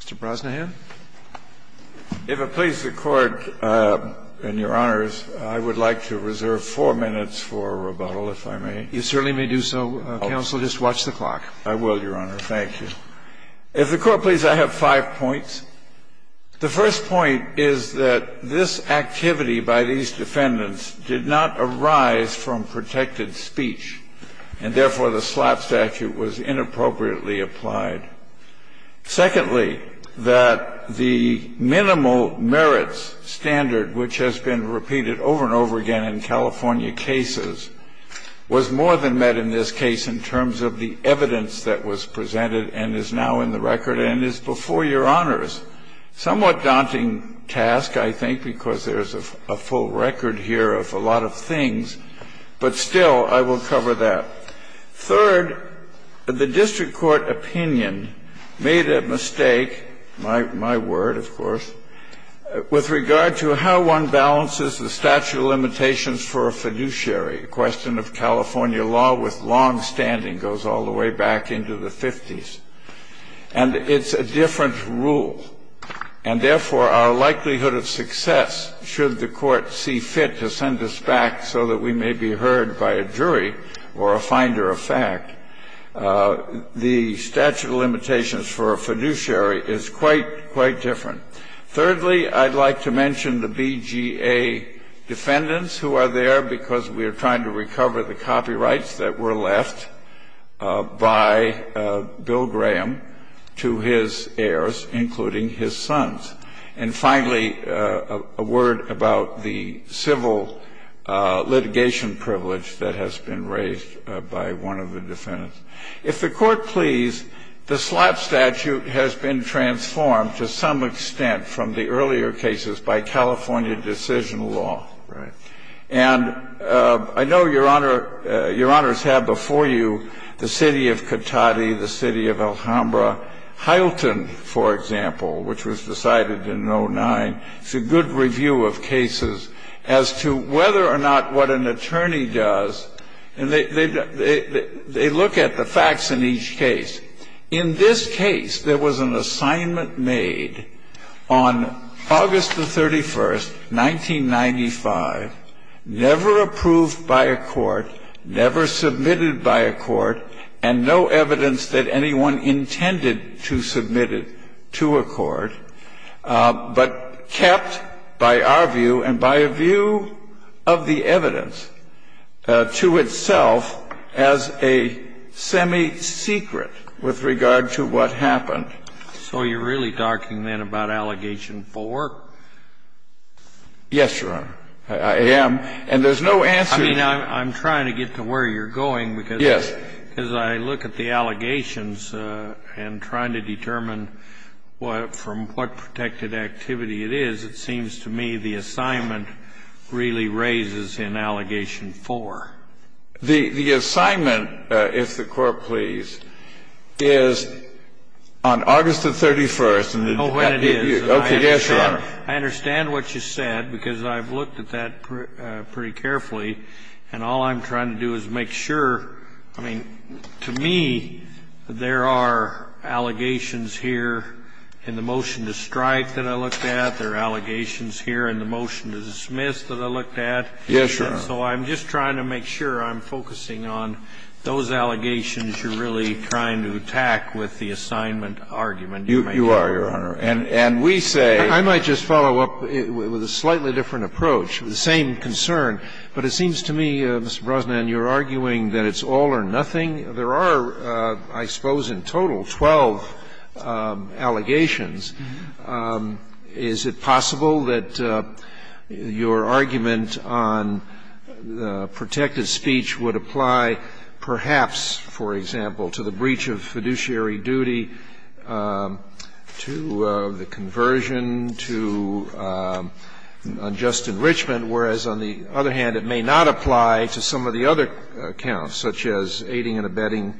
Mr. Brosnahan. If it pleases the Court and Your Honors, I would like to reserve four minutes for rebuttal, if I may. You certainly may do so, Counsel. Just watch the clock. I will, Your Honor. Thank you. If the Court pleases, I have five points. The first point is that this activity by these defendants did not arise from protected speech, and therefore the slap statute was inappropriately applied. Secondly, that the minimal merits standard, which has been repeated over and over again in California cases, was more than met in this case in terms of the evidence that was presented and is now in the record and is before Your Honors. Somewhat daunting task, I think, because there is a full record here of a lot of things, but still, I will cover that. Third, the district court opinion made a mistake, my word, of course, with regard to how one balances the statute of limitations for a fiduciary. A question of California law with longstanding goes all the way back into the 50s. And it's a different rule. And therefore, our likelihood of success, should the Court see fit to send us back so that we may be heard by a jury or a finder of fact, the statute of limitations for a fiduciary is quite, quite different. Thirdly, I'd like to mention the BGA defendants who are there because we are trying to recover the copyrights that were left by Bill Graham to his heirs, including his sons. And finally, a word about the civil litigation privilege that has been raised by one of the defendants. If the Court please, the slap statute has been transformed to some extent from the earlier cases by California decision law. Right. And I know Your Honors had before you the city of Cotati, the city of Alhambra. Hylton, for example, which was decided in 09, it's a good review of cases as to whether or not what an attorney does. And they look at the facts in each case. In this case, there was an assignment made on August the 31st, 1995, never approved by a court, never submitted by a court, and no evidence that anyone intended to submit it to a court, but kept by our view and by a view of the evidence to itself as a semi-secret with regard to what happened. So you're really talking then about Allegation 4? Yes, Your Honor. I am. And there's no answer. I mean, I'm trying to get to where you're going. Yes. Because I look at the allegations and trying to determine from what protected activity it is, it seems to me the assignment really raises in Allegation 4. The assignment, if the Court please, is on August the 31st. Oh, and it is. Okay. Yes, Your Honor. I understand what you said, because I've looked at that pretty carefully. And all I'm trying to do is make sure. I mean, to me, there are allegations here in the motion to strike that I looked at, there are allegations here in the motion to dismiss that I looked at. Yes, Your Honor. So I'm just trying to make sure I'm focusing on those allegations you're really You are, Your Honor. And we say I might just follow up with a slightly different approach, the same concern. But it seems to me, Mr. Brosnan, you're arguing that it's all or nothing. There are, I suppose in total, 12 allegations. Is it possible that your argument on protected speech would apply perhaps, for example, to the breach of fiduciary duty, to the conversion, to unjust enrichment, whereas on the other hand, it may not apply to some of the other counts, such as aiding and abetting,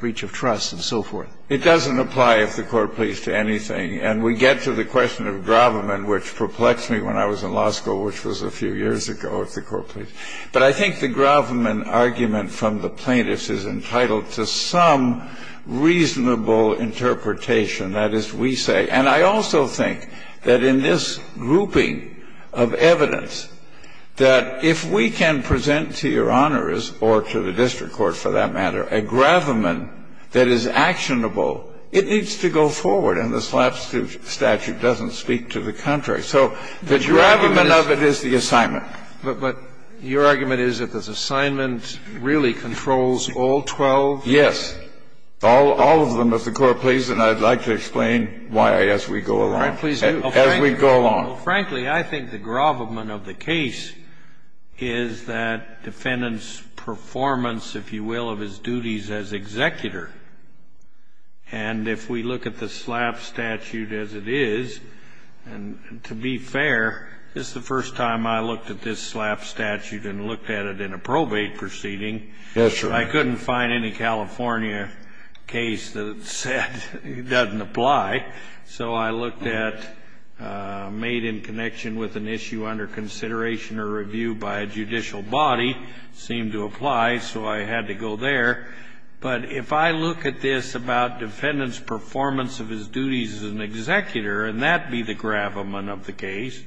breach of trust, and so forth? It doesn't apply, if the Court please, to anything. And we get to the question of Groverman, which perplexed me when I was in law school, which was a few years ago, if the Court please. But I think the Groverman argument from the plaintiffs is entitled to some reasonable interpretation, that is, we say. And I also think that in this grouping of evidence, that if we can present to Your Honors, or to the district court for that matter, a Groverman that is actionable, it needs to go forward. And the SLAP statute doesn't speak to the contrary. So the Groverman of it is the assignment. But your argument is that this assignment really controls all 12? Yes. All of them, if the Court please. And I'd like to explain why as we go along. All right. Please do. As we go along. Frankly, I think the Groverman of the case is that defendant's performance, if you will, of his duties as executor. And if we look at the SLAP statute as it is, and to be fair, this is the first time I looked at this SLAP statute and looked at it in a probate proceeding. Yes, sir. I couldn't find any California case that said it doesn't apply. So I looked at made in connection with an issue under consideration or review by a judicial body, seemed to apply, so I had to go there. But if I look at this about defendant's performance of his duties as an executor, and that be the Groverman of the case,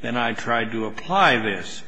then I tried to apply this.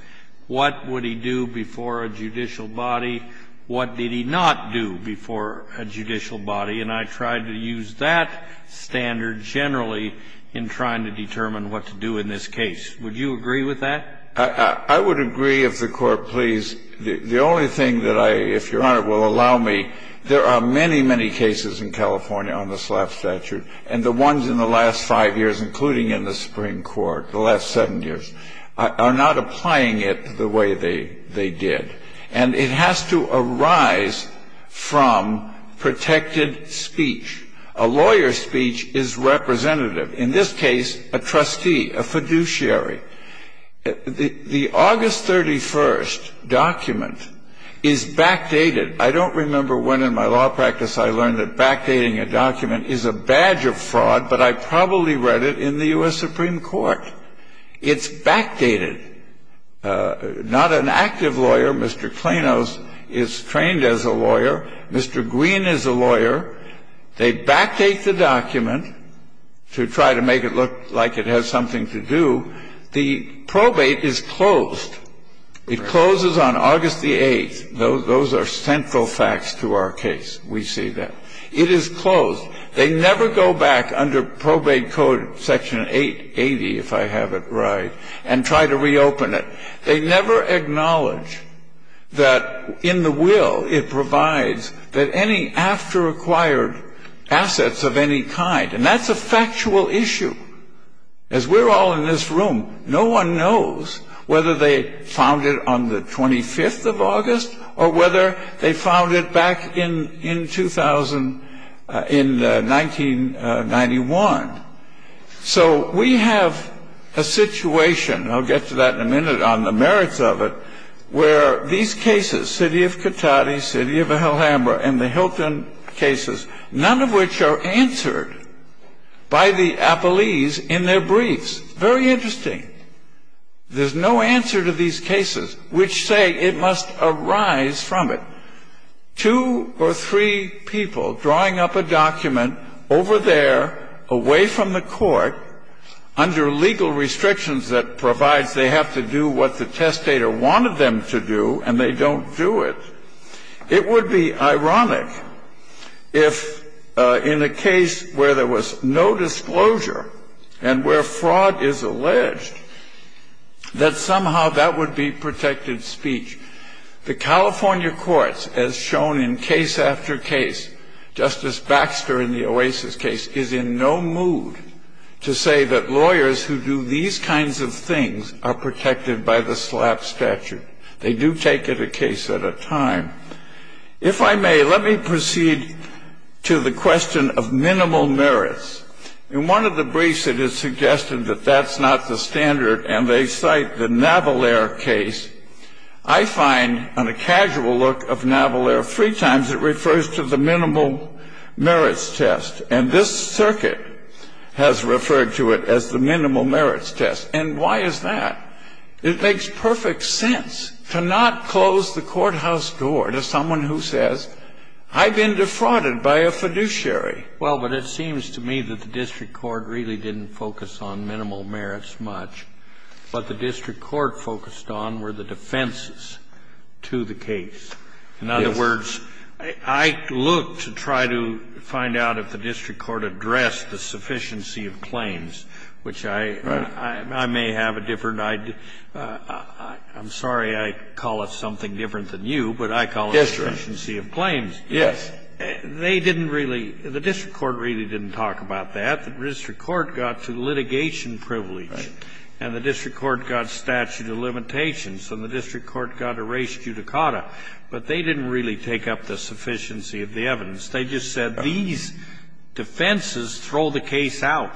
What would he do before a judicial body? What did he not do before a judicial body? And I tried to use that standard generally in trying to determine what to do in this case. Would you agree with that? I would agree, if the Court please. The only thing that I, if Your Honor will allow me, there are many, many cases in California on the SLAP statute, and the ones in the last five years, including in the Supreme Court, the last seven years, are not applying it the way they did. And it has to arise from protected speech. A lawyer's speech is representative, in this case, a trustee, a fiduciary. The August 31st document is backdated. I don't remember when in my law practice I learned that backdating a document is a badge of fraud, but I probably read it in the U.S. Supreme Court. It's backdated. Not an active lawyer. Mr. Klainos is trained as a lawyer. Mr. Green is a lawyer. They backdate the document to try to make it look like it has something to do. The probate is closed. It closes on August the 8th. Those are central facts to our case. We see that. It is closed. They never go back under probate code section 880, if I have it right, and try to reopen it. They never acknowledge that in the will it provides that any after-acquired assets of any kind, and that's a factual issue. As we're all in this room, no one knows whether they found it on the 25th of August or whether they found it back in 1991. So we have a situation, and I'll get to that in a minute, on the merits of it, where these cases, City of Cotati, City of Alhambra, and the Hilton cases, none of which are answered by the appellees in their briefs. Very interesting. There's no answer to these cases, which say it must arise from it. Two or three people drawing up a document over there, away from the court, under legal restrictions that provides they have to do what the testator wanted them to do, and they don't do it. It would be ironic if, in a case where there was no disclosure and where fraud is alleged, that somehow that would be protected speech. The California courts, as shown in case after case, Justice Baxter in the Oasis case, is in no mood to say that lawyers who do these kinds of things are protected by the SLAPP statute. They do take it a case at a time. If I may, let me proceed to the question of minimal merits. In one of the briefs, it is suggested that that's not the standard, and they cite the Naval Air case. I find, on a casual look of Naval Air, three times it refers to the minimal merits test, and this circuit has referred to it as the minimal merits test. And why is that? It makes perfect sense to not close the courthouse door to someone who says, I've been defrauded by a fiduciary. Well, but it seems to me that the district court really didn't focus on minimal merits much, but the district court focused on were the defenses to the case. Yes. In other words, I look to try to find out if the district court addressed the sufficiency of claims, which I may have a different idea. I'm sorry I call it something different than you, but I call it the sufficiency of claims. Yes. They didn't really, the district court really didn't talk about that. The district court got to litigation privilege, and the district court got statute of limitations, and the district court got a res judicata, but they didn't really take up the sufficiency of the evidence. They just said these defenses throw the case out.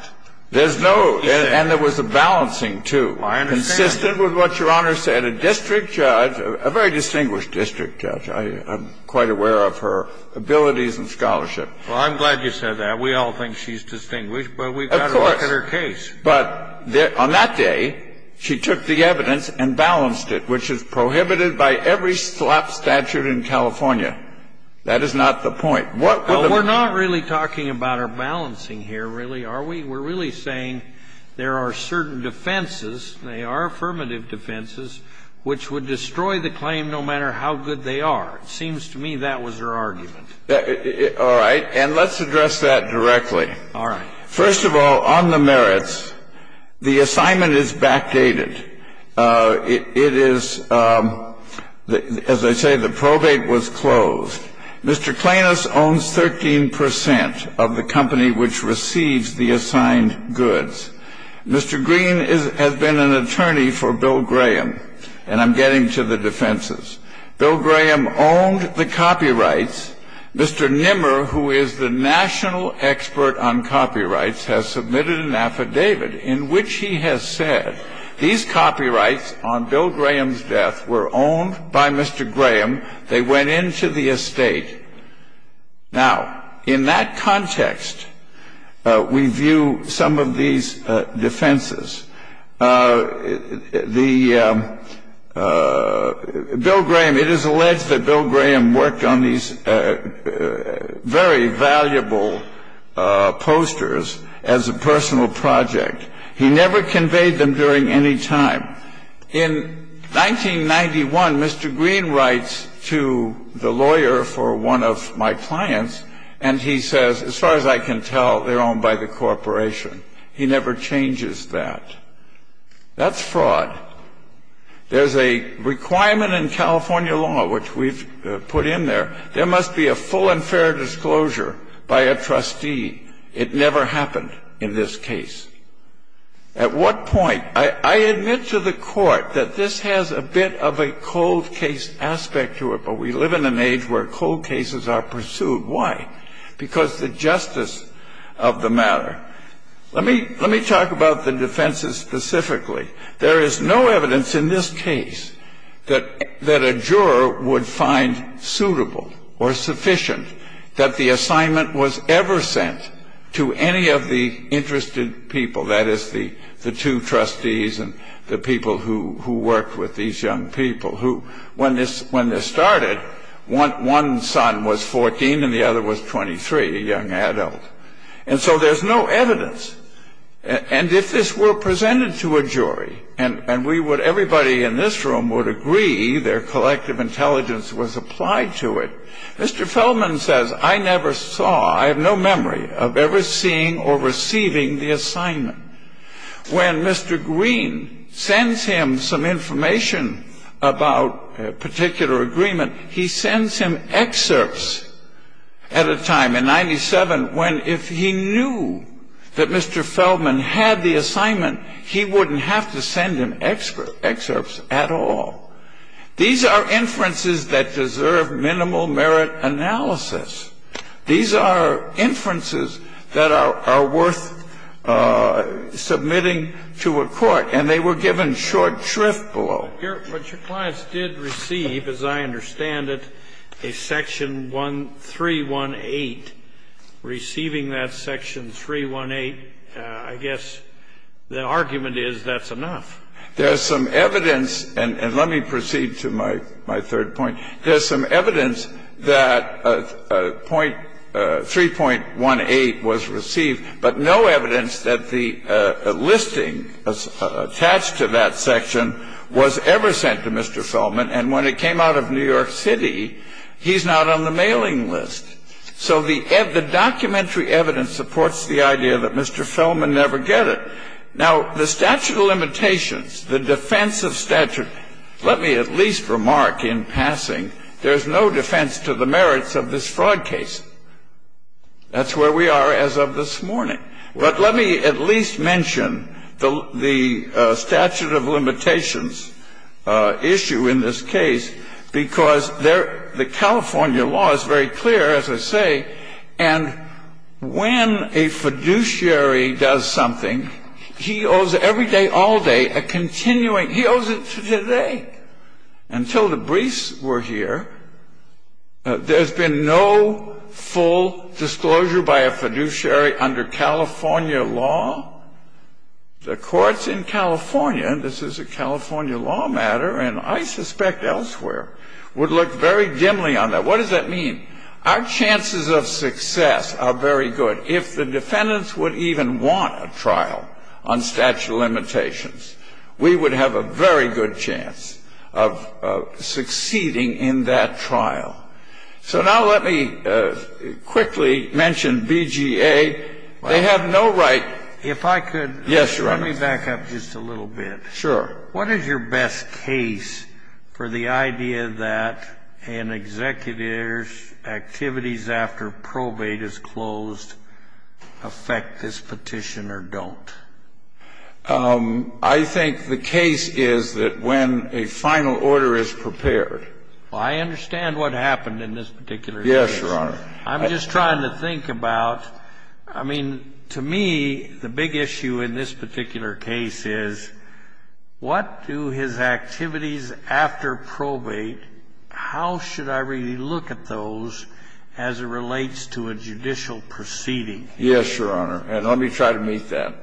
There's no, and there was a balancing, too. I understand. Consistent with what Your Honor said. A district judge, a very distinguished district judge. I'm quite aware of her abilities and scholarship. Well, I'm glad you said that. We all think she's distinguished, but we've got to look at her case. Of course. But on that day, she took the evidence and balanced it, which is prohibited by every statute in California. That is not the point. Well, we're not really talking about her balancing here, really, are we? We're really saying there are certain defenses, and they are affirmative defenses, which would destroy the claim no matter how good they are. It seems to me that was her argument. All right. And let's address that directly. All right. First of all, on the merits, the assignment is backdated. It is, as I say, the probate was closed. Mr. Klainas owns 13% of the company which receives the assigned goods. Mr. Green has been an attorney for Bill Graham. And I'm getting to the defenses. Bill Graham owned the copyrights. Mr. Nimmer, who is the national expert on copyrights, has submitted an affidavit in which he has said these copyrights on Bill Graham's death were owned by Mr. Graham. They went into the estate. Now, in that context, we view some of these defenses. The Bill Graham, it is alleged that Bill Graham worked on these very valuable posters as a personal project. He never conveyed them during any time. Now, in 1991, Mr. Green writes to the lawyer for one of my clients and he says, as far as I can tell, they're owned by the corporation. He never changes that. That's fraud. There's a requirement in California law, which we've put in there, there must be a full and fair disclosure by a trustee. It never happened in this case. At what point? I admit to the Court that this has a bit of a cold case aspect to it, but we live in an age where cold cases are pursued. Why? Because the justice of the matter. Let me talk about the defenses specifically. There is no evidence in this case that a juror would find suitable or sufficient that the assignment was ever sent to any of the interested people. That is, the two trustees and the people who worked with these young people who, when this started, one son was 14 and the other was 23, a young adult. And so there's no evidence. And if this were presented to a jury and everybody in this room would agree their Mr. Feldman says, I never saw, I have no memory of ever seeing or receiving the assignment. When Mr. Green sends him some information about a particular agreement, he sends him excerpts at a time in 97 when if he knew that Mr. Feldman had the assignment, he wouldn't have to send him excerpts at all. These are inferences that deserve minimal merit analysis. These are inferences that are worth submitting to a court. And they were given short shrift below. But your clients did receive, as I understand it, a section 1318. Receiving that section 318, I guess the argument is that's enough. There's some evidence, and let me proceed to my third point. There's some evidence that 3.18 was received, but no evidence that the listing attached to that section was ever sent to Mr. Feldman. And when it came out of New York City, he's not on the mailing list. So the documentary evidence supports the idea that Mr. Feldman never get it. Now, the statute of limitations, the defense of statute, let me at least remark in passing, there's no defense to the merits of this fraud case. That's where we are as of this morning. But let me at least mention the statute of limitations issue in this case because the California law is very clear, as I say, and when a fiduciary does something, he owes every day, all day, a continuing. He owes it to today. Until the briefs were here, there's been no full disclosure by a fiduciary under California law. The courts in California, and this is a California law matter and I suspect elsewhere, would look very dimly on that. What does that mean? Our chances of success are very good. If the defendants would even want a trial on statute of limitations, we would have a very good chance of succeeding in that trial. So now let me quickly mention BGA. They have no right. If I could. Yes, Your Honor. Let me back up just a little bit. Sure. What is your best case for the idea that an executive's activities after probate is closed affect this petition or don't? I think the case is that when a final order is prepared. Well, I understand what happened in this particular case. Yes, Your Honor. I'm just trying to think about, I mean, to me, the big issue in this particular case is what do his activities after probate, how should I really look at those as it relates to a judicial proceeding? Yes, Your Honor. And let me try to meet that.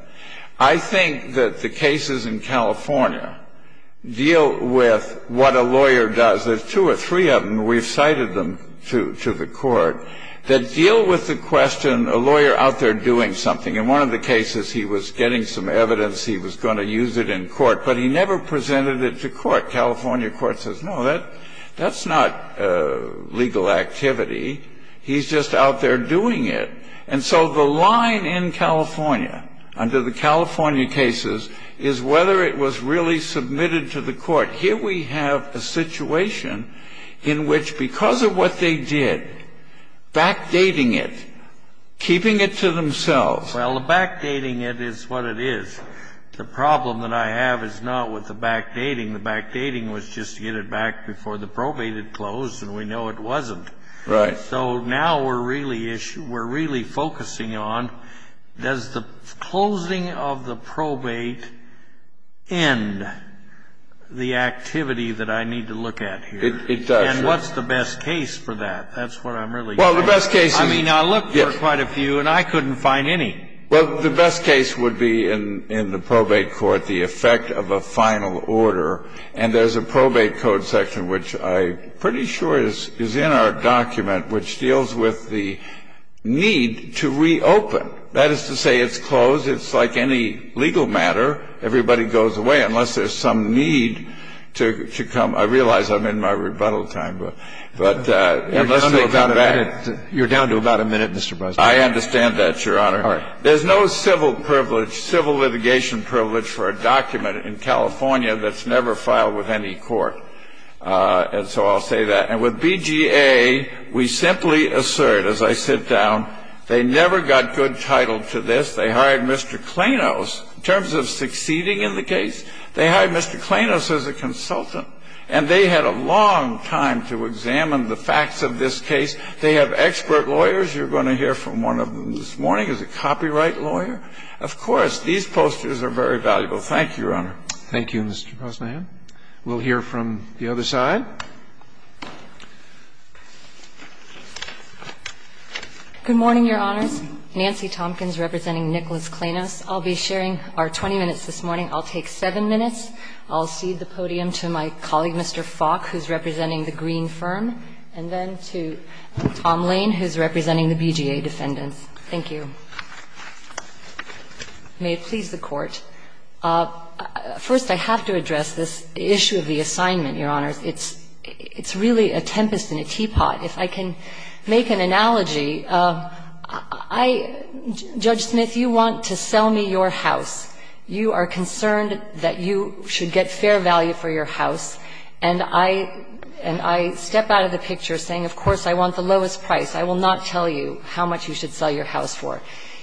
I think that the cases in California deal with what a lawyer does. There's two or three of them. We've cited them to the court that deal with the question, a lawyer out there doing something. In one of the cases, he was getting some evidence he was going to use it in court, but he never presented it to court. California court says, no, that's not legal activity. He's just out there doing it. And so the line in California under the California cases is whether it was really submitted to the court. Here we have a situation in which because of what they did, backdating it, keeping it to themselves. Well, the backdating it is what it is. The problem that I have is not with the backdating. The backdating was just to get it back before the probate had closed, and we know it wasn't. Right. So now we're really focusing on, does the closing of the probate end the activity that I need to look at here? It does. And what's the best case for that? That's what I'm really getting at. Well, the best case is. I mean, I looked for quite a few, and I couldn't find any. Well, the best case would be in the probate court, the effect of a final order. And there's a probate code section, which I'm pretty sure is in our document, which deals with the need to reopen. That is to say, it's closed. It's like any legal matter. Everybody goes away unless there's some need to come. I realize I'm in my rebuttal time, but unless nobody comes back. You're down to about a minute, Mr. Bresnik. I understand that, Your Honor. All right. There's no civil privilege, civil litigation privilege for a document in California that's never filed with any court. And so I'll say that. And with BGA, we simply assert, as I sit down, they never got good title to this. They hired Mr. Klainos. In terms of succeeding in the case, they hired Mr. Klainos as a consultant, and they had a long time to examine the facts of this case. They have expert lawyers. You're going to hear from one of them this morning. He's a copyright lawyer. Of course, these posters are very valuable. Thank you, Your Honor. Thank you, Mr. Bresnik. We'll hear from the other side. Good morning, Your Honors. Nancy Tompkins representing Nicholas Klainos. I'll be sharing our 20 minutes this morning. I'll take 7 minutes. I'll cede the podium to my colleague, Mr. Falk, who's representing the Green firm, and then to Tom Lane, who's representing the BGA defendants. Thank you. May it please the Court. First, I have to address this issue of the assignment, Your Honors. It's really a tempest in a teapot. If I can make an analogy, I — Judge Smith, you want to sell me your house. You are concerned that you should get fair value for your house. And I — and I step out of the picture saying, of course, I want the lowest price. I will not tell you how much you should sell your house for.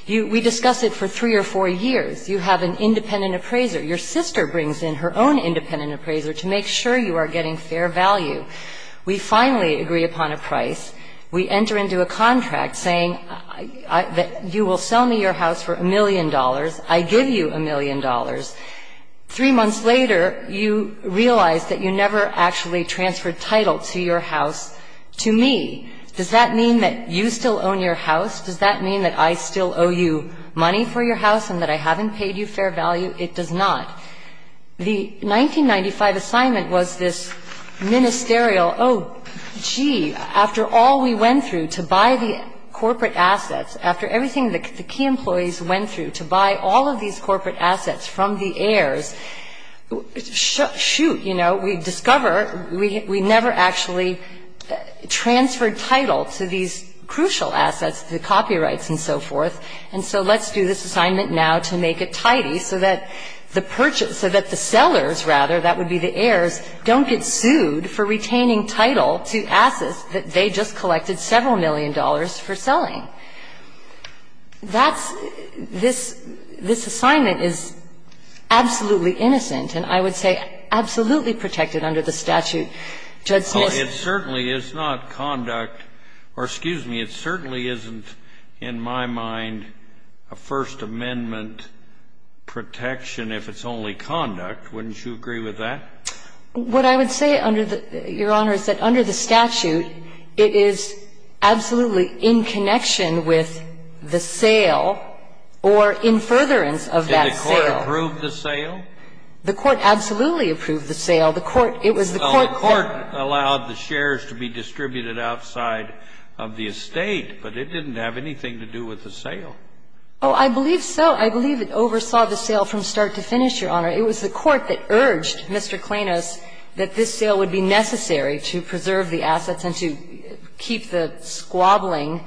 We discuss it for three or four years. You have an independent appraiser. Your sister brings in her own independent appraiser to make sure you are getting fair value. We finally agree upon a price. We enter into a contract saying that you will sell me your house for a million dollars. I give you a million dollars. Three months later, you realize that you never actually transferred title to your house to me. Does that mean that you still own your house? Does that mean that I still owe you money for your house and that I haven't paid you fair value? It does not. The 1995 assignment was this ministerial, oh, gee, after all we went through to buy the corporate assets, after everything the key employees went through to buy all of these corporate assets from the heirs, shoot, you know, we discover we never actually transferred title to these crucial assets, the copyrights and so forth. And so let's do this assignment now to make it tidy so that the purchase, so that the sellers, rather, that would be the heirs, don't get sued for retaining title to assets that they just collected several million dollars for selling. That's this assignment is absolutely innocent and I would say absolutely protected under the statute. Judge Smith. It certainly is not conduct, or excuse me, it certainly isn't in my mind a First Amendment protection if it's only conduct. Wouldn't you agree with that? What I would say, Your Honor, is that under the statute it is absolutely in connection with the sale or in furtherance of that sale. Did the court approve the sale? The court absolutely approved the sale. The court, it was the court that. Well, the court allowed the shares to be distributed outside of the estate, but it didn't have anything to do with the sale. Oh, I believe so. I believe it oversaw the sale from start to finish, Your Honor. It was the court that urged Mr. Klainos that this sale would be necessary to preserve the assets and to keep the squabbling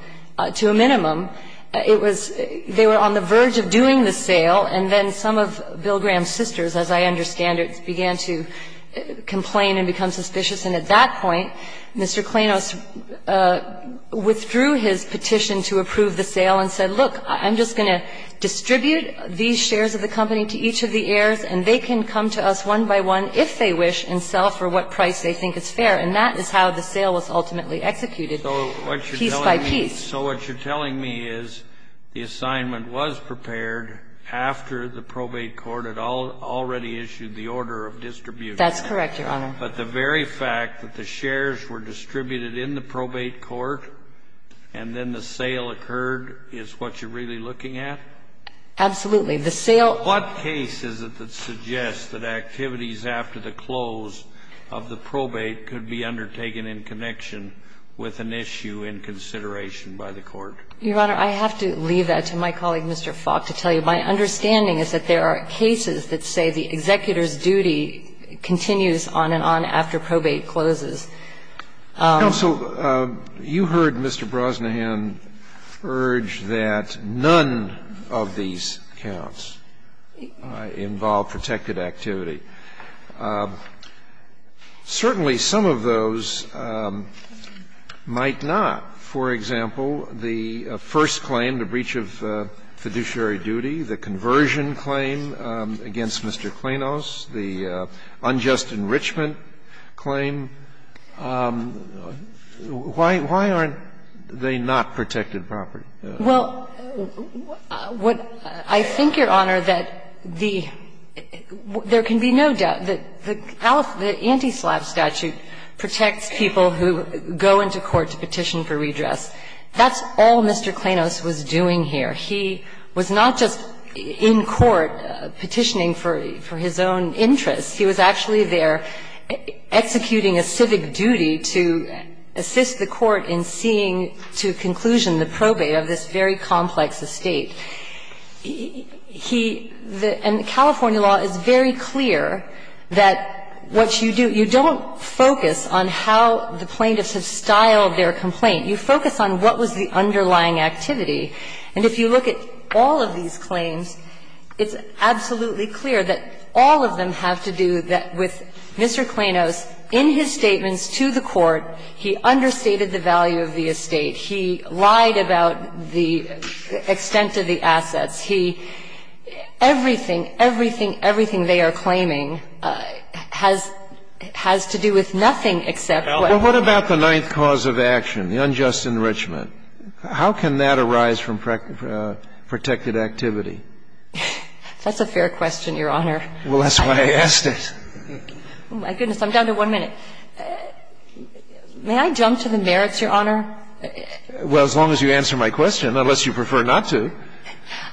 to a minimum. It was they were on the verge of doing the sale, and then some of Bill Graham's sisters, as I understand it, began to complain and become suspicious, and at that point, Mr. Klainos withdrew his petition to approve the sale and said, look, I'm just going to distribute these shares of the company to each of the heirs, and they can come to us one by one, if they wish, and sell for what price they think is fair. And that is how the sale was ultimately executed, piece by piece. So what you're telling me is the assignment was prepared after the probate court had already issued the order of distribution. That's correct, Your Honor. But the very fact that the shares were distributed in the probate court and then the What case is it that suggests that activities after the close of the probate could be undertaken in connection with an issue in consideration by the Court? Your Honor, I have to leave that to my colleague, Mr. Faulk, to tell you. My understanding is that there are cases that say the executor's duty continues on and on after probate closes. Counsel, you heard Mr. Brosnahan urge that none of these counts involve protected activity. Certainly, some of those might not. For example, the first claim, the breach of fiduciary duty, the conversion claim against Mr. Klainos, the unjust enrichment claim, why aren't they not protected property? Well, what I think, Your Honor, that the – there can be no doubt that the anti-SLAPP statute protects people who go into court to petition for redress. That's all Mr. Klainos was doing here. He was not just in court petitioning for his own interests. He was actually there executing a civic duty to assist the court in seeing to conclusion the probate of this very complex estate. He – and California law is very clear that what you do, you don't focus on how the plaintiffs have styled their complaint. You focus on what was the underlying activity. And if you look at all of these claims, it's absolutely clear that all of them have to do with Mr. Klainos, in his statements to the court, he understated the value of the estate. He lied about the extent of the assets. He – everything, everything, everything they are claiming has to do with nothing except what – Well, what about the ninth cause of action, the unjust enrichment? How can that arise from protected activity? That's a fair question, Your Honor. Well, that's why I asked it. Oh, my goodness. I'm down to one minute. May I jump to the merits, Your Honor? Well, as long as you answer my question, unless you prefer not to.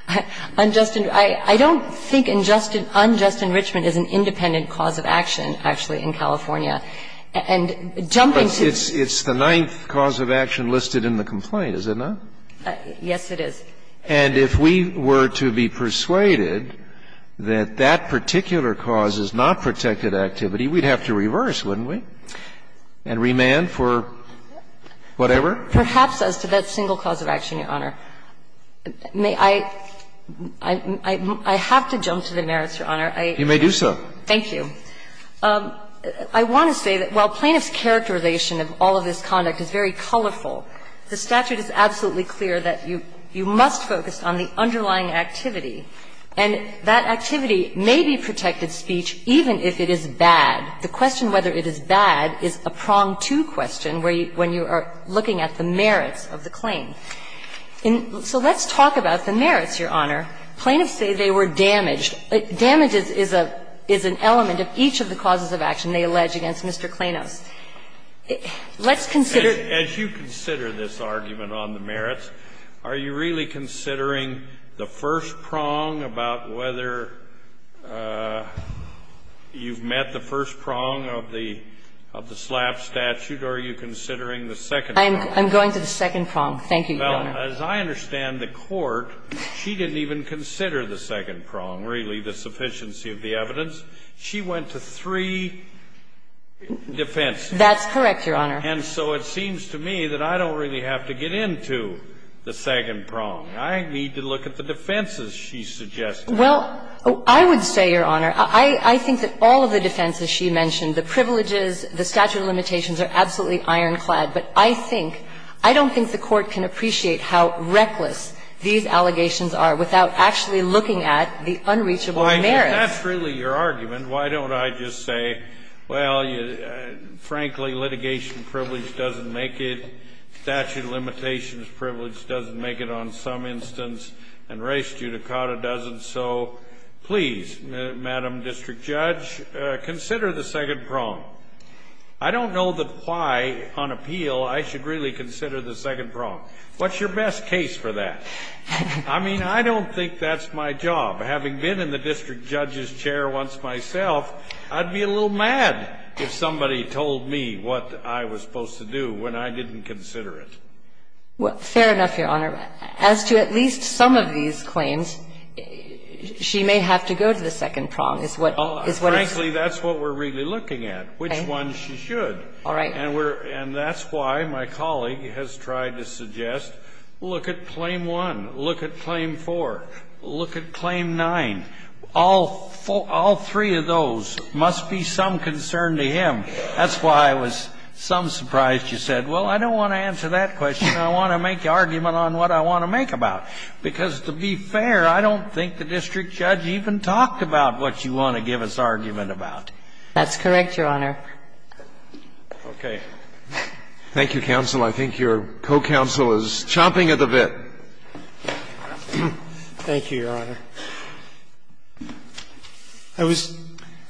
I don't think unjust enrichment is an independent cause of action, actually, in California. And jumping to the – It's the ninth cause of action listed in the complaint, is it not? Yes, it is. And if we were to be persuaded that that particular cause is not protected activity, we'd have to reverse, wouldn't we, and remand for whatever? Perhaps as to that single cause of action, Your Honor. May I – I have to jump to the merits, Your Honor. You may do so. Thank you. I want to say that while plaintiff's characterization of all of this conduct is very colorful, the statute is absolutely clear that you must focus on the underlying activity. And that activity may be protected speech even if it is bad. The question whether it is bad is a prong to question when you are looking at the merits of the claim. So let's talk about the merits, Your Honor. Plaintiffs say they were damaged. Damage is an element of each of the causes of action they allege against Mr. Klainos. Let's consider the merits. As you consider this argument on the merits, are you really considering the first prong about whether you've met the first prong of the slap statute, or are you considering the second prong? I'm going to the second prong. Thank you, Your Honor. As I understand the Court, she didn't even consider the second prong, really, the sufficiency of the evidence. She went to three defenses. That's correct, Your Honor. And so it seems to me that I don't really have to get into the second prong. I need to look at the defenses she suggested. Well, I would say, Your Honor, I think that all of the defenses she mentioned, the privileges, the statute of limitations are absolutely ironclad. But I think, I don't think the Court can appreciate how reckless these allegations are without actually looking at the unreachable merits. Well, if that's really your argument, why don't I just say, well, frankly, litigation privilege doesn't make it, statute of limitations privilege doesn't make it on some instance, and res judicata doesn't. So please, Madam District Judge, consider the second prong. I don't know that why, on appeal, I should really consider the second prong. What's your best case for that? I mean, I don't think that's my job. Having been in the district judge's chair once myself, I'd be a little mad if somebody told me what I was supposed to do when I didn't consider it. Well, fair enough, Your Honor. As to at least some of these claims, she may have to go to the second prong, is what is what I'm saying. And that's what we're really looking at, which one she should. All right. And that's why my colleague has tried to suggest, look at claim one, look at claim four, look at claim nine. All three of those must be some concern to him. That's why I was some surprised you said, well, I don't want to answer that question. I want to make the argument on what I want to make about. Because to be fair, I don't think the district judge even talked about what you want to give his argument about. That's correct, Your Honor. Okay. Thank you, counsel. I think your co-counsel is chomping at the bit. Thank you, Your Honor. I was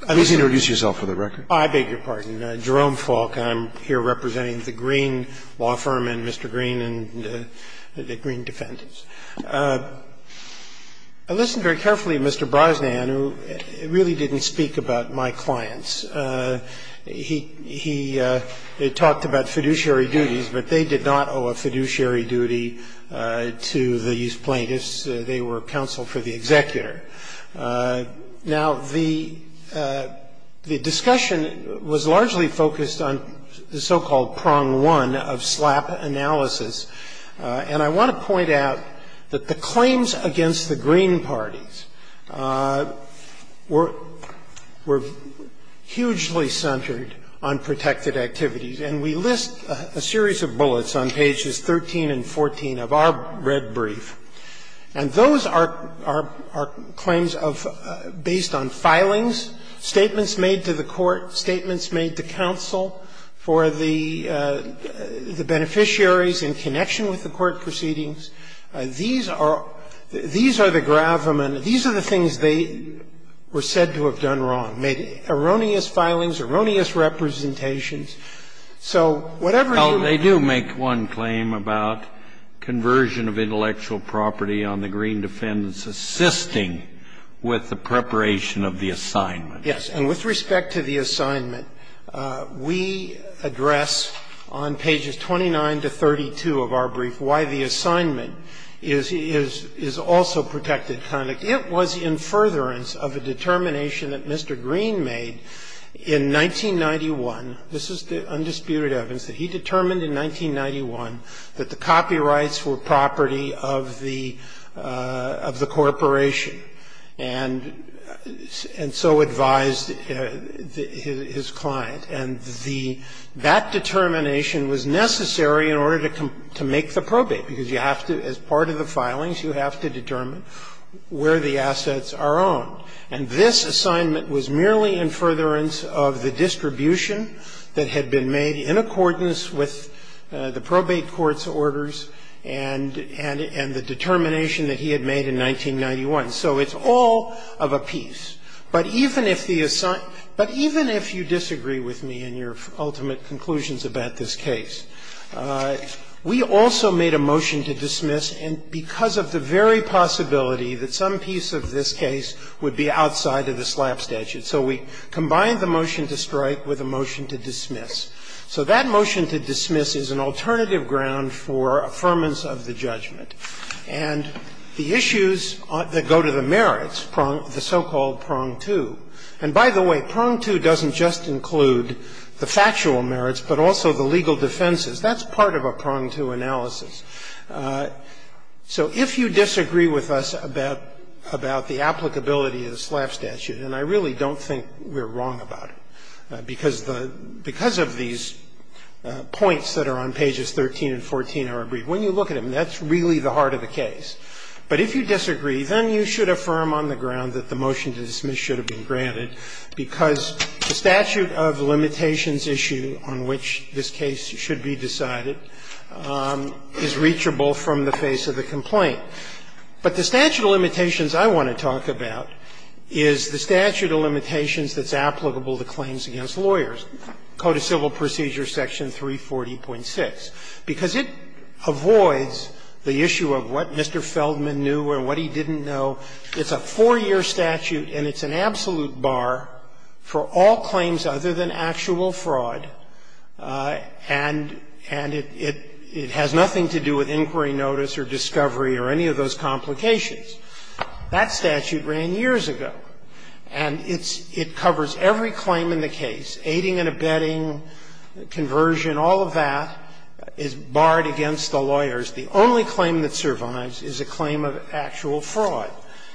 at least. Please introduce yourself for the record. I beg your pardon. Jerome Falk. I'm here representing the Green Law Firm and Mr. Green and the Green Defendants. I listened very carefully to Mr. Brosnan, who really didn't speak about my clients. He talked about fiduciary duties, but they did not owe a fiduciary duty to these plaintiffs. They were counsel for the executor. Now, the discussion was largely focused on the so-called prong one of SLAPP analysis. And I want to point out that the claims against the Green parties were hugely centered on protected activities. And we list a series of bullets on pages 13 and 14 of our red brief. And those are claims of – based on filings, statements made to the court, statements made to counsel for the beneficiaries in connection with the court proceedings. These are – these are the gravamen – these are the things they were said to have done wrong, made erroneous filings, erroneous representations. So whatever you – Well, they do make one claim about conversion of intellectual property on the Green Defendants assisting with the preparation of the assignment. Yes. And with respect to the assignment, we address on pages 29 to 32 of our brief why the assignment is also protected conduct. It was in furtherance of a determination that Mr. Green made in 1991 – this is the undisputed evidence – that he determined in 1991 that the copyrights were property of the – of the corporation, and so advised his client. And the – that determination was necessary in order to make the probate, because you have to – as part of the filings, you have to determine where the assets are owned. And this assignment was merely in furtherance of the distribution that had been made in accordance with the probate court's orders and – and the determination that he had made in 1991. So it's all of a piece. But even if the – but even if you disagree with me in your ultimate conclusions about this case, we also made a motion to dismiss, and because of the very possibility that some piece of this case would be outside of the SLAPP statute. So we combined the motion to strike with a motion to dismiss. So that motion to dismiss is an alternative ground for affirmance of the judgment. And the issues that go to the merits, the so-called prong two – and by the way, prong two doesn't just include the factual merits, but also the legal defenses. That's part of a prong two analysis. So if you disagree with us about – about the applicability of the SLAPP statute, and I really don't think we're wrong about it, because the – because of these points that are on pages 13 and 14 are agreed. When you look at them, that's really the heart of the case. But if you disagree, then you should affirm on the ground that the motion to dismiss should have been granted because the statute of limitations issue on which this case should be decided is reachable from the face of the complaint. But the statute of limitations I want to talk about is the statute of limitations that's applicable to claims against lawyers, Code of Civil Procedures, section 340.6, because it avoids the issue of what Mr. Feldman knew or what he didn't know. It's a four-year statute, and it's an absolute bar for all claims other than actual fraud, and – and it – it has nothing to do with inquiry notice or discovery or any of those complications. That statute ran years ago, and it's – it covers every claim in the case, aiding and abetting, conversion, all of that is barred against the lawyers. The only claim that survives is a claim of actual fraud.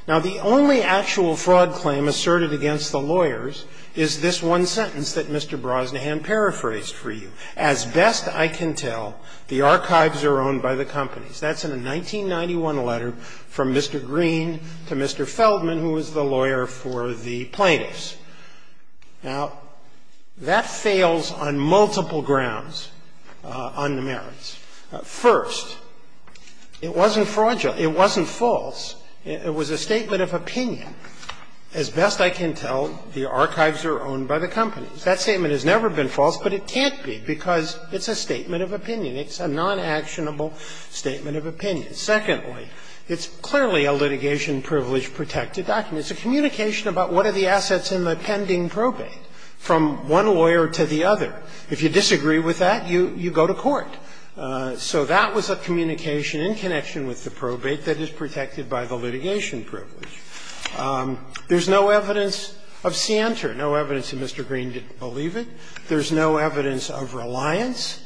Now, the only actual fraud claim asserted against the lawyers is this one sentence that Mr. Brosnahan paraphrased for you. As best I can tell, the archives are owned by the companies. That's in a 1991 letter from Mr. Green to Mr. Feldman, who was the lawyer for the plaintiffs. Now, that fails on multiple grounds on the merits. First, it wasn't fraudulent. It wasn't false. It was a statement of opinion. As best I can tell, the archives are owned by the companies. That statement has never been false, but it can't be, because it's a statement of opinion. It's a non-actionable statement of opinion. Secondly, it's clearly a litigation privilege-protected document. It's a communication about what are the assets in the pending probate from one lawyer to the other. If you disagree with that, you go to court. So that was a communication in connection with the probate that is protected by the litigation privilege. There's no evidence of scienter, no evidence that Mr. Green didn't believe it. There's no evidence of reliance.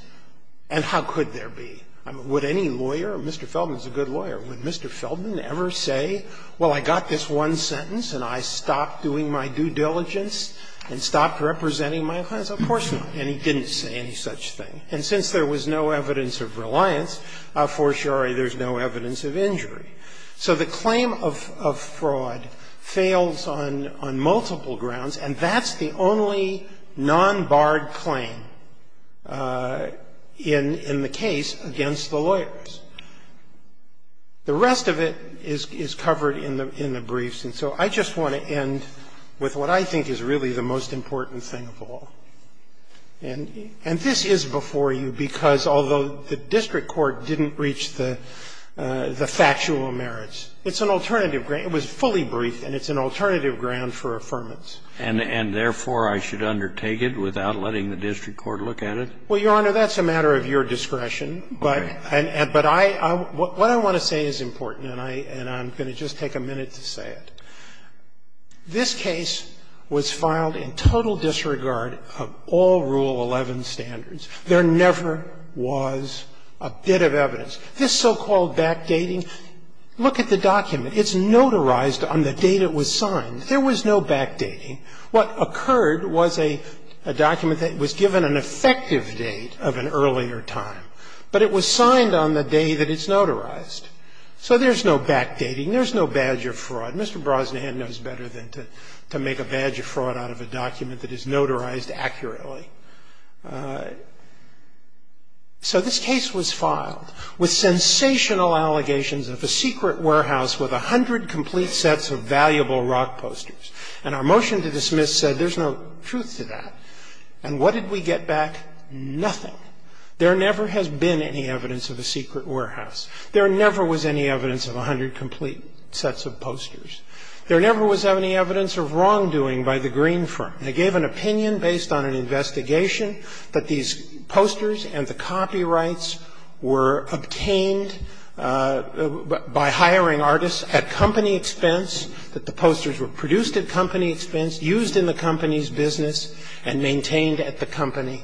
And how could there be? Would any lawyer – Mr. Feldman is a good lawyer. Would Mr. Feldman ever say, well, I got this one sentence and I stopped doing my due diligence and stopped representing my clients? Of course not. And he didn't say any such thing. And since there was no evidence of reliance, for sure there's no evidence of injury. And so there's a guard claim in the case against the lawyers. The rest of it is covered in the briefs. And so I just want to end with what I think is really the most important thing of all. And this is before you because although the district court didn't reach the factual merits, it's an alternative – it was fully briefed and it's an alternative ground for affirmance. And therefore, I should undertake it without letting the district court look at it? Well, Your Honor, that's a matter of your discretion. But I – what I want to say is important, and I'm going to just take a minute to say it. This case was filed in total disregard of all Rule 11 standards. There never was a bit of evidence. This so-called backdating, look at the document. It's notarized on the date it was signed. There was no backdating. What occurred was a document that was given an effective date of an earlier time, but it was signed on the day that it's notarized. So there's no backdating. There's no badge of fraud. Mr. Brosnahan knows better than to make a badge of fraud out of a document that is notarized accurately. So this case was filed with sensational allegations of a secret warehouse with 100 complete sets of valuable rock posters. And our motion to dismiss said there's no truth to that. And what did we get back? Nothing. There never has been any evidence of a secret warehouse. There never was any evidence of 100 complete sets of posters. There never was any evidence of wrongdoing by the Green firm. They gave an opinion based on an investigation that these posters and the copyrights were obtained by hiring artists at company expense, that the posters were produced at company expense, used in the company's business, and maintained at the company.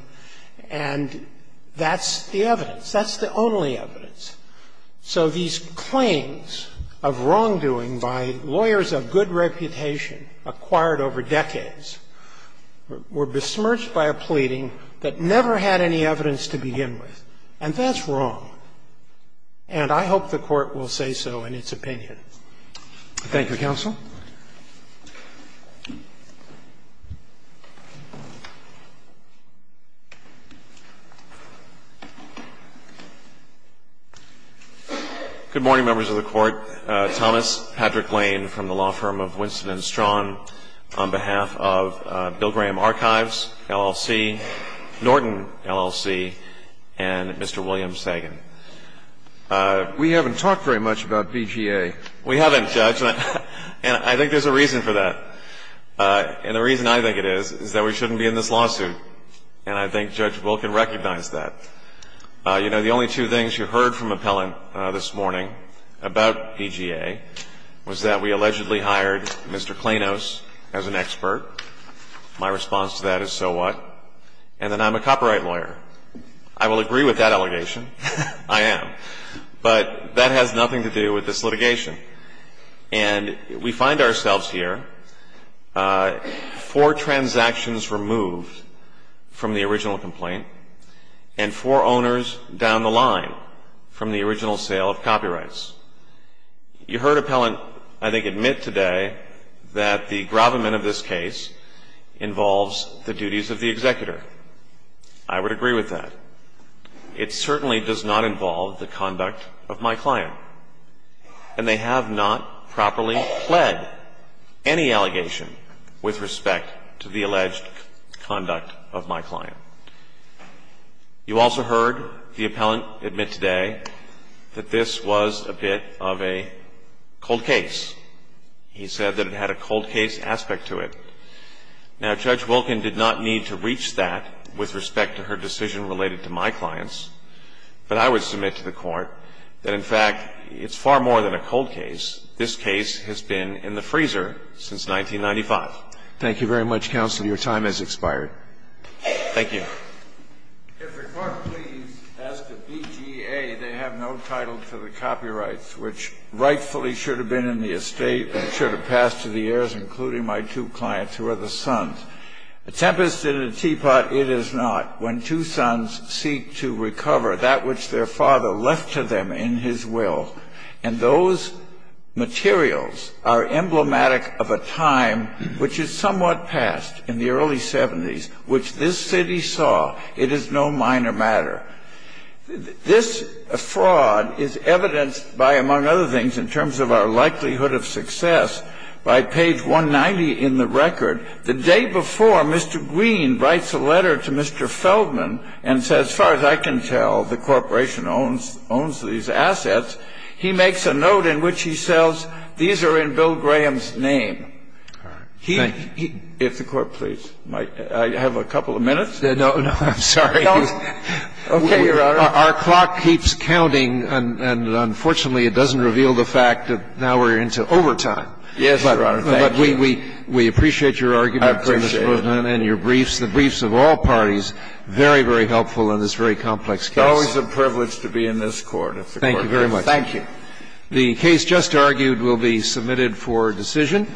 And that's the evidence. That's the only evidence. So these claims of wrongdoing by lawyers of good reputation acquired over decades were besmirched by a pleading that never had any evidence to begin with. And that's wrong. And I hope the Court will say so in its opinion. Thank you, Counsel. Good morning, members of the Court. Thomas Patrick Lane from the law firm of Winston & Strawn on behalf of Bill Graham Archives, LLC, Norton, LLC, and Mr. William Sagan. We haven't talked very much about BGA. We haven't, Judge. And I think there's a reason for that. And the reason I think it is is that we shouldn't be in this lawsuit. And I think Judge Wilken recognized that. You know, the only two things you heard from Appellant this morning about BGA was that we allegedly hired Mr. Planos as an expert. My response to that is, so what? And that I'm a copyright lawyer. I will agree with that allegation. I am. But that has nothing to do with this litigation. And we find ourselves here, four transactions removed from the original complaint and four owners down the line from the original sale of copyrights. You heard Appellant, I think, admit today that the gravamen of this case involves the duties of the executor. I would agree with that. It certainly does not involve the conduct of my client. And they have not properly pled any allegation with respect to the alleged conduct of my client. You also heard the Appellant admit today that this was a bit of a cold case. He said that it had a cold case aspect to it. Now, Judge Wilken did not need to reach that with respect to her decision related to my clients. But I would submit to the Court that, in fact, it's far more than a cold case. This case has been in the freezer since 1995. Thank you very much, Counsel. Your time has expired. Thank you. If the Court please, as to BGA, they have no title to the copyrights, which rightfully should have been in the estate and should have passed to the heirs, including my two clients, who are the sons. A tempest in a teapot it is not when two sons seek to recover that which their father left to them in his will. And those materials are emblematic of a time which is somewhat past, in the early 70s, which this city saw. It is no minor matter. This fraud is evidenced by, among other things, in terms of our likelihood of success, by page 190 in the record, the day before Mr. Green writes a letter to Mr. Feldman and says, as far as I can tell, the corporation owns these assets, he makes a note in which he says, these are in Bill Graham's name. All right. Thank you. If the Court please. I have a couple of minutes. No, no, I'm sorry. Okay, Your Honor. Our clock keeps counting, and unfortunately it doesn't reveal the fact that now we're into overtime. Yes, Your Honor. Thank you. But we appreciate your argument. I appreciate it. And your briefs, the briefs of all parties, very, very helpful in this very complex case. It's always a privilege to be in this Court. Thank you very much. Thank you. The case just argued will be submitted for decision.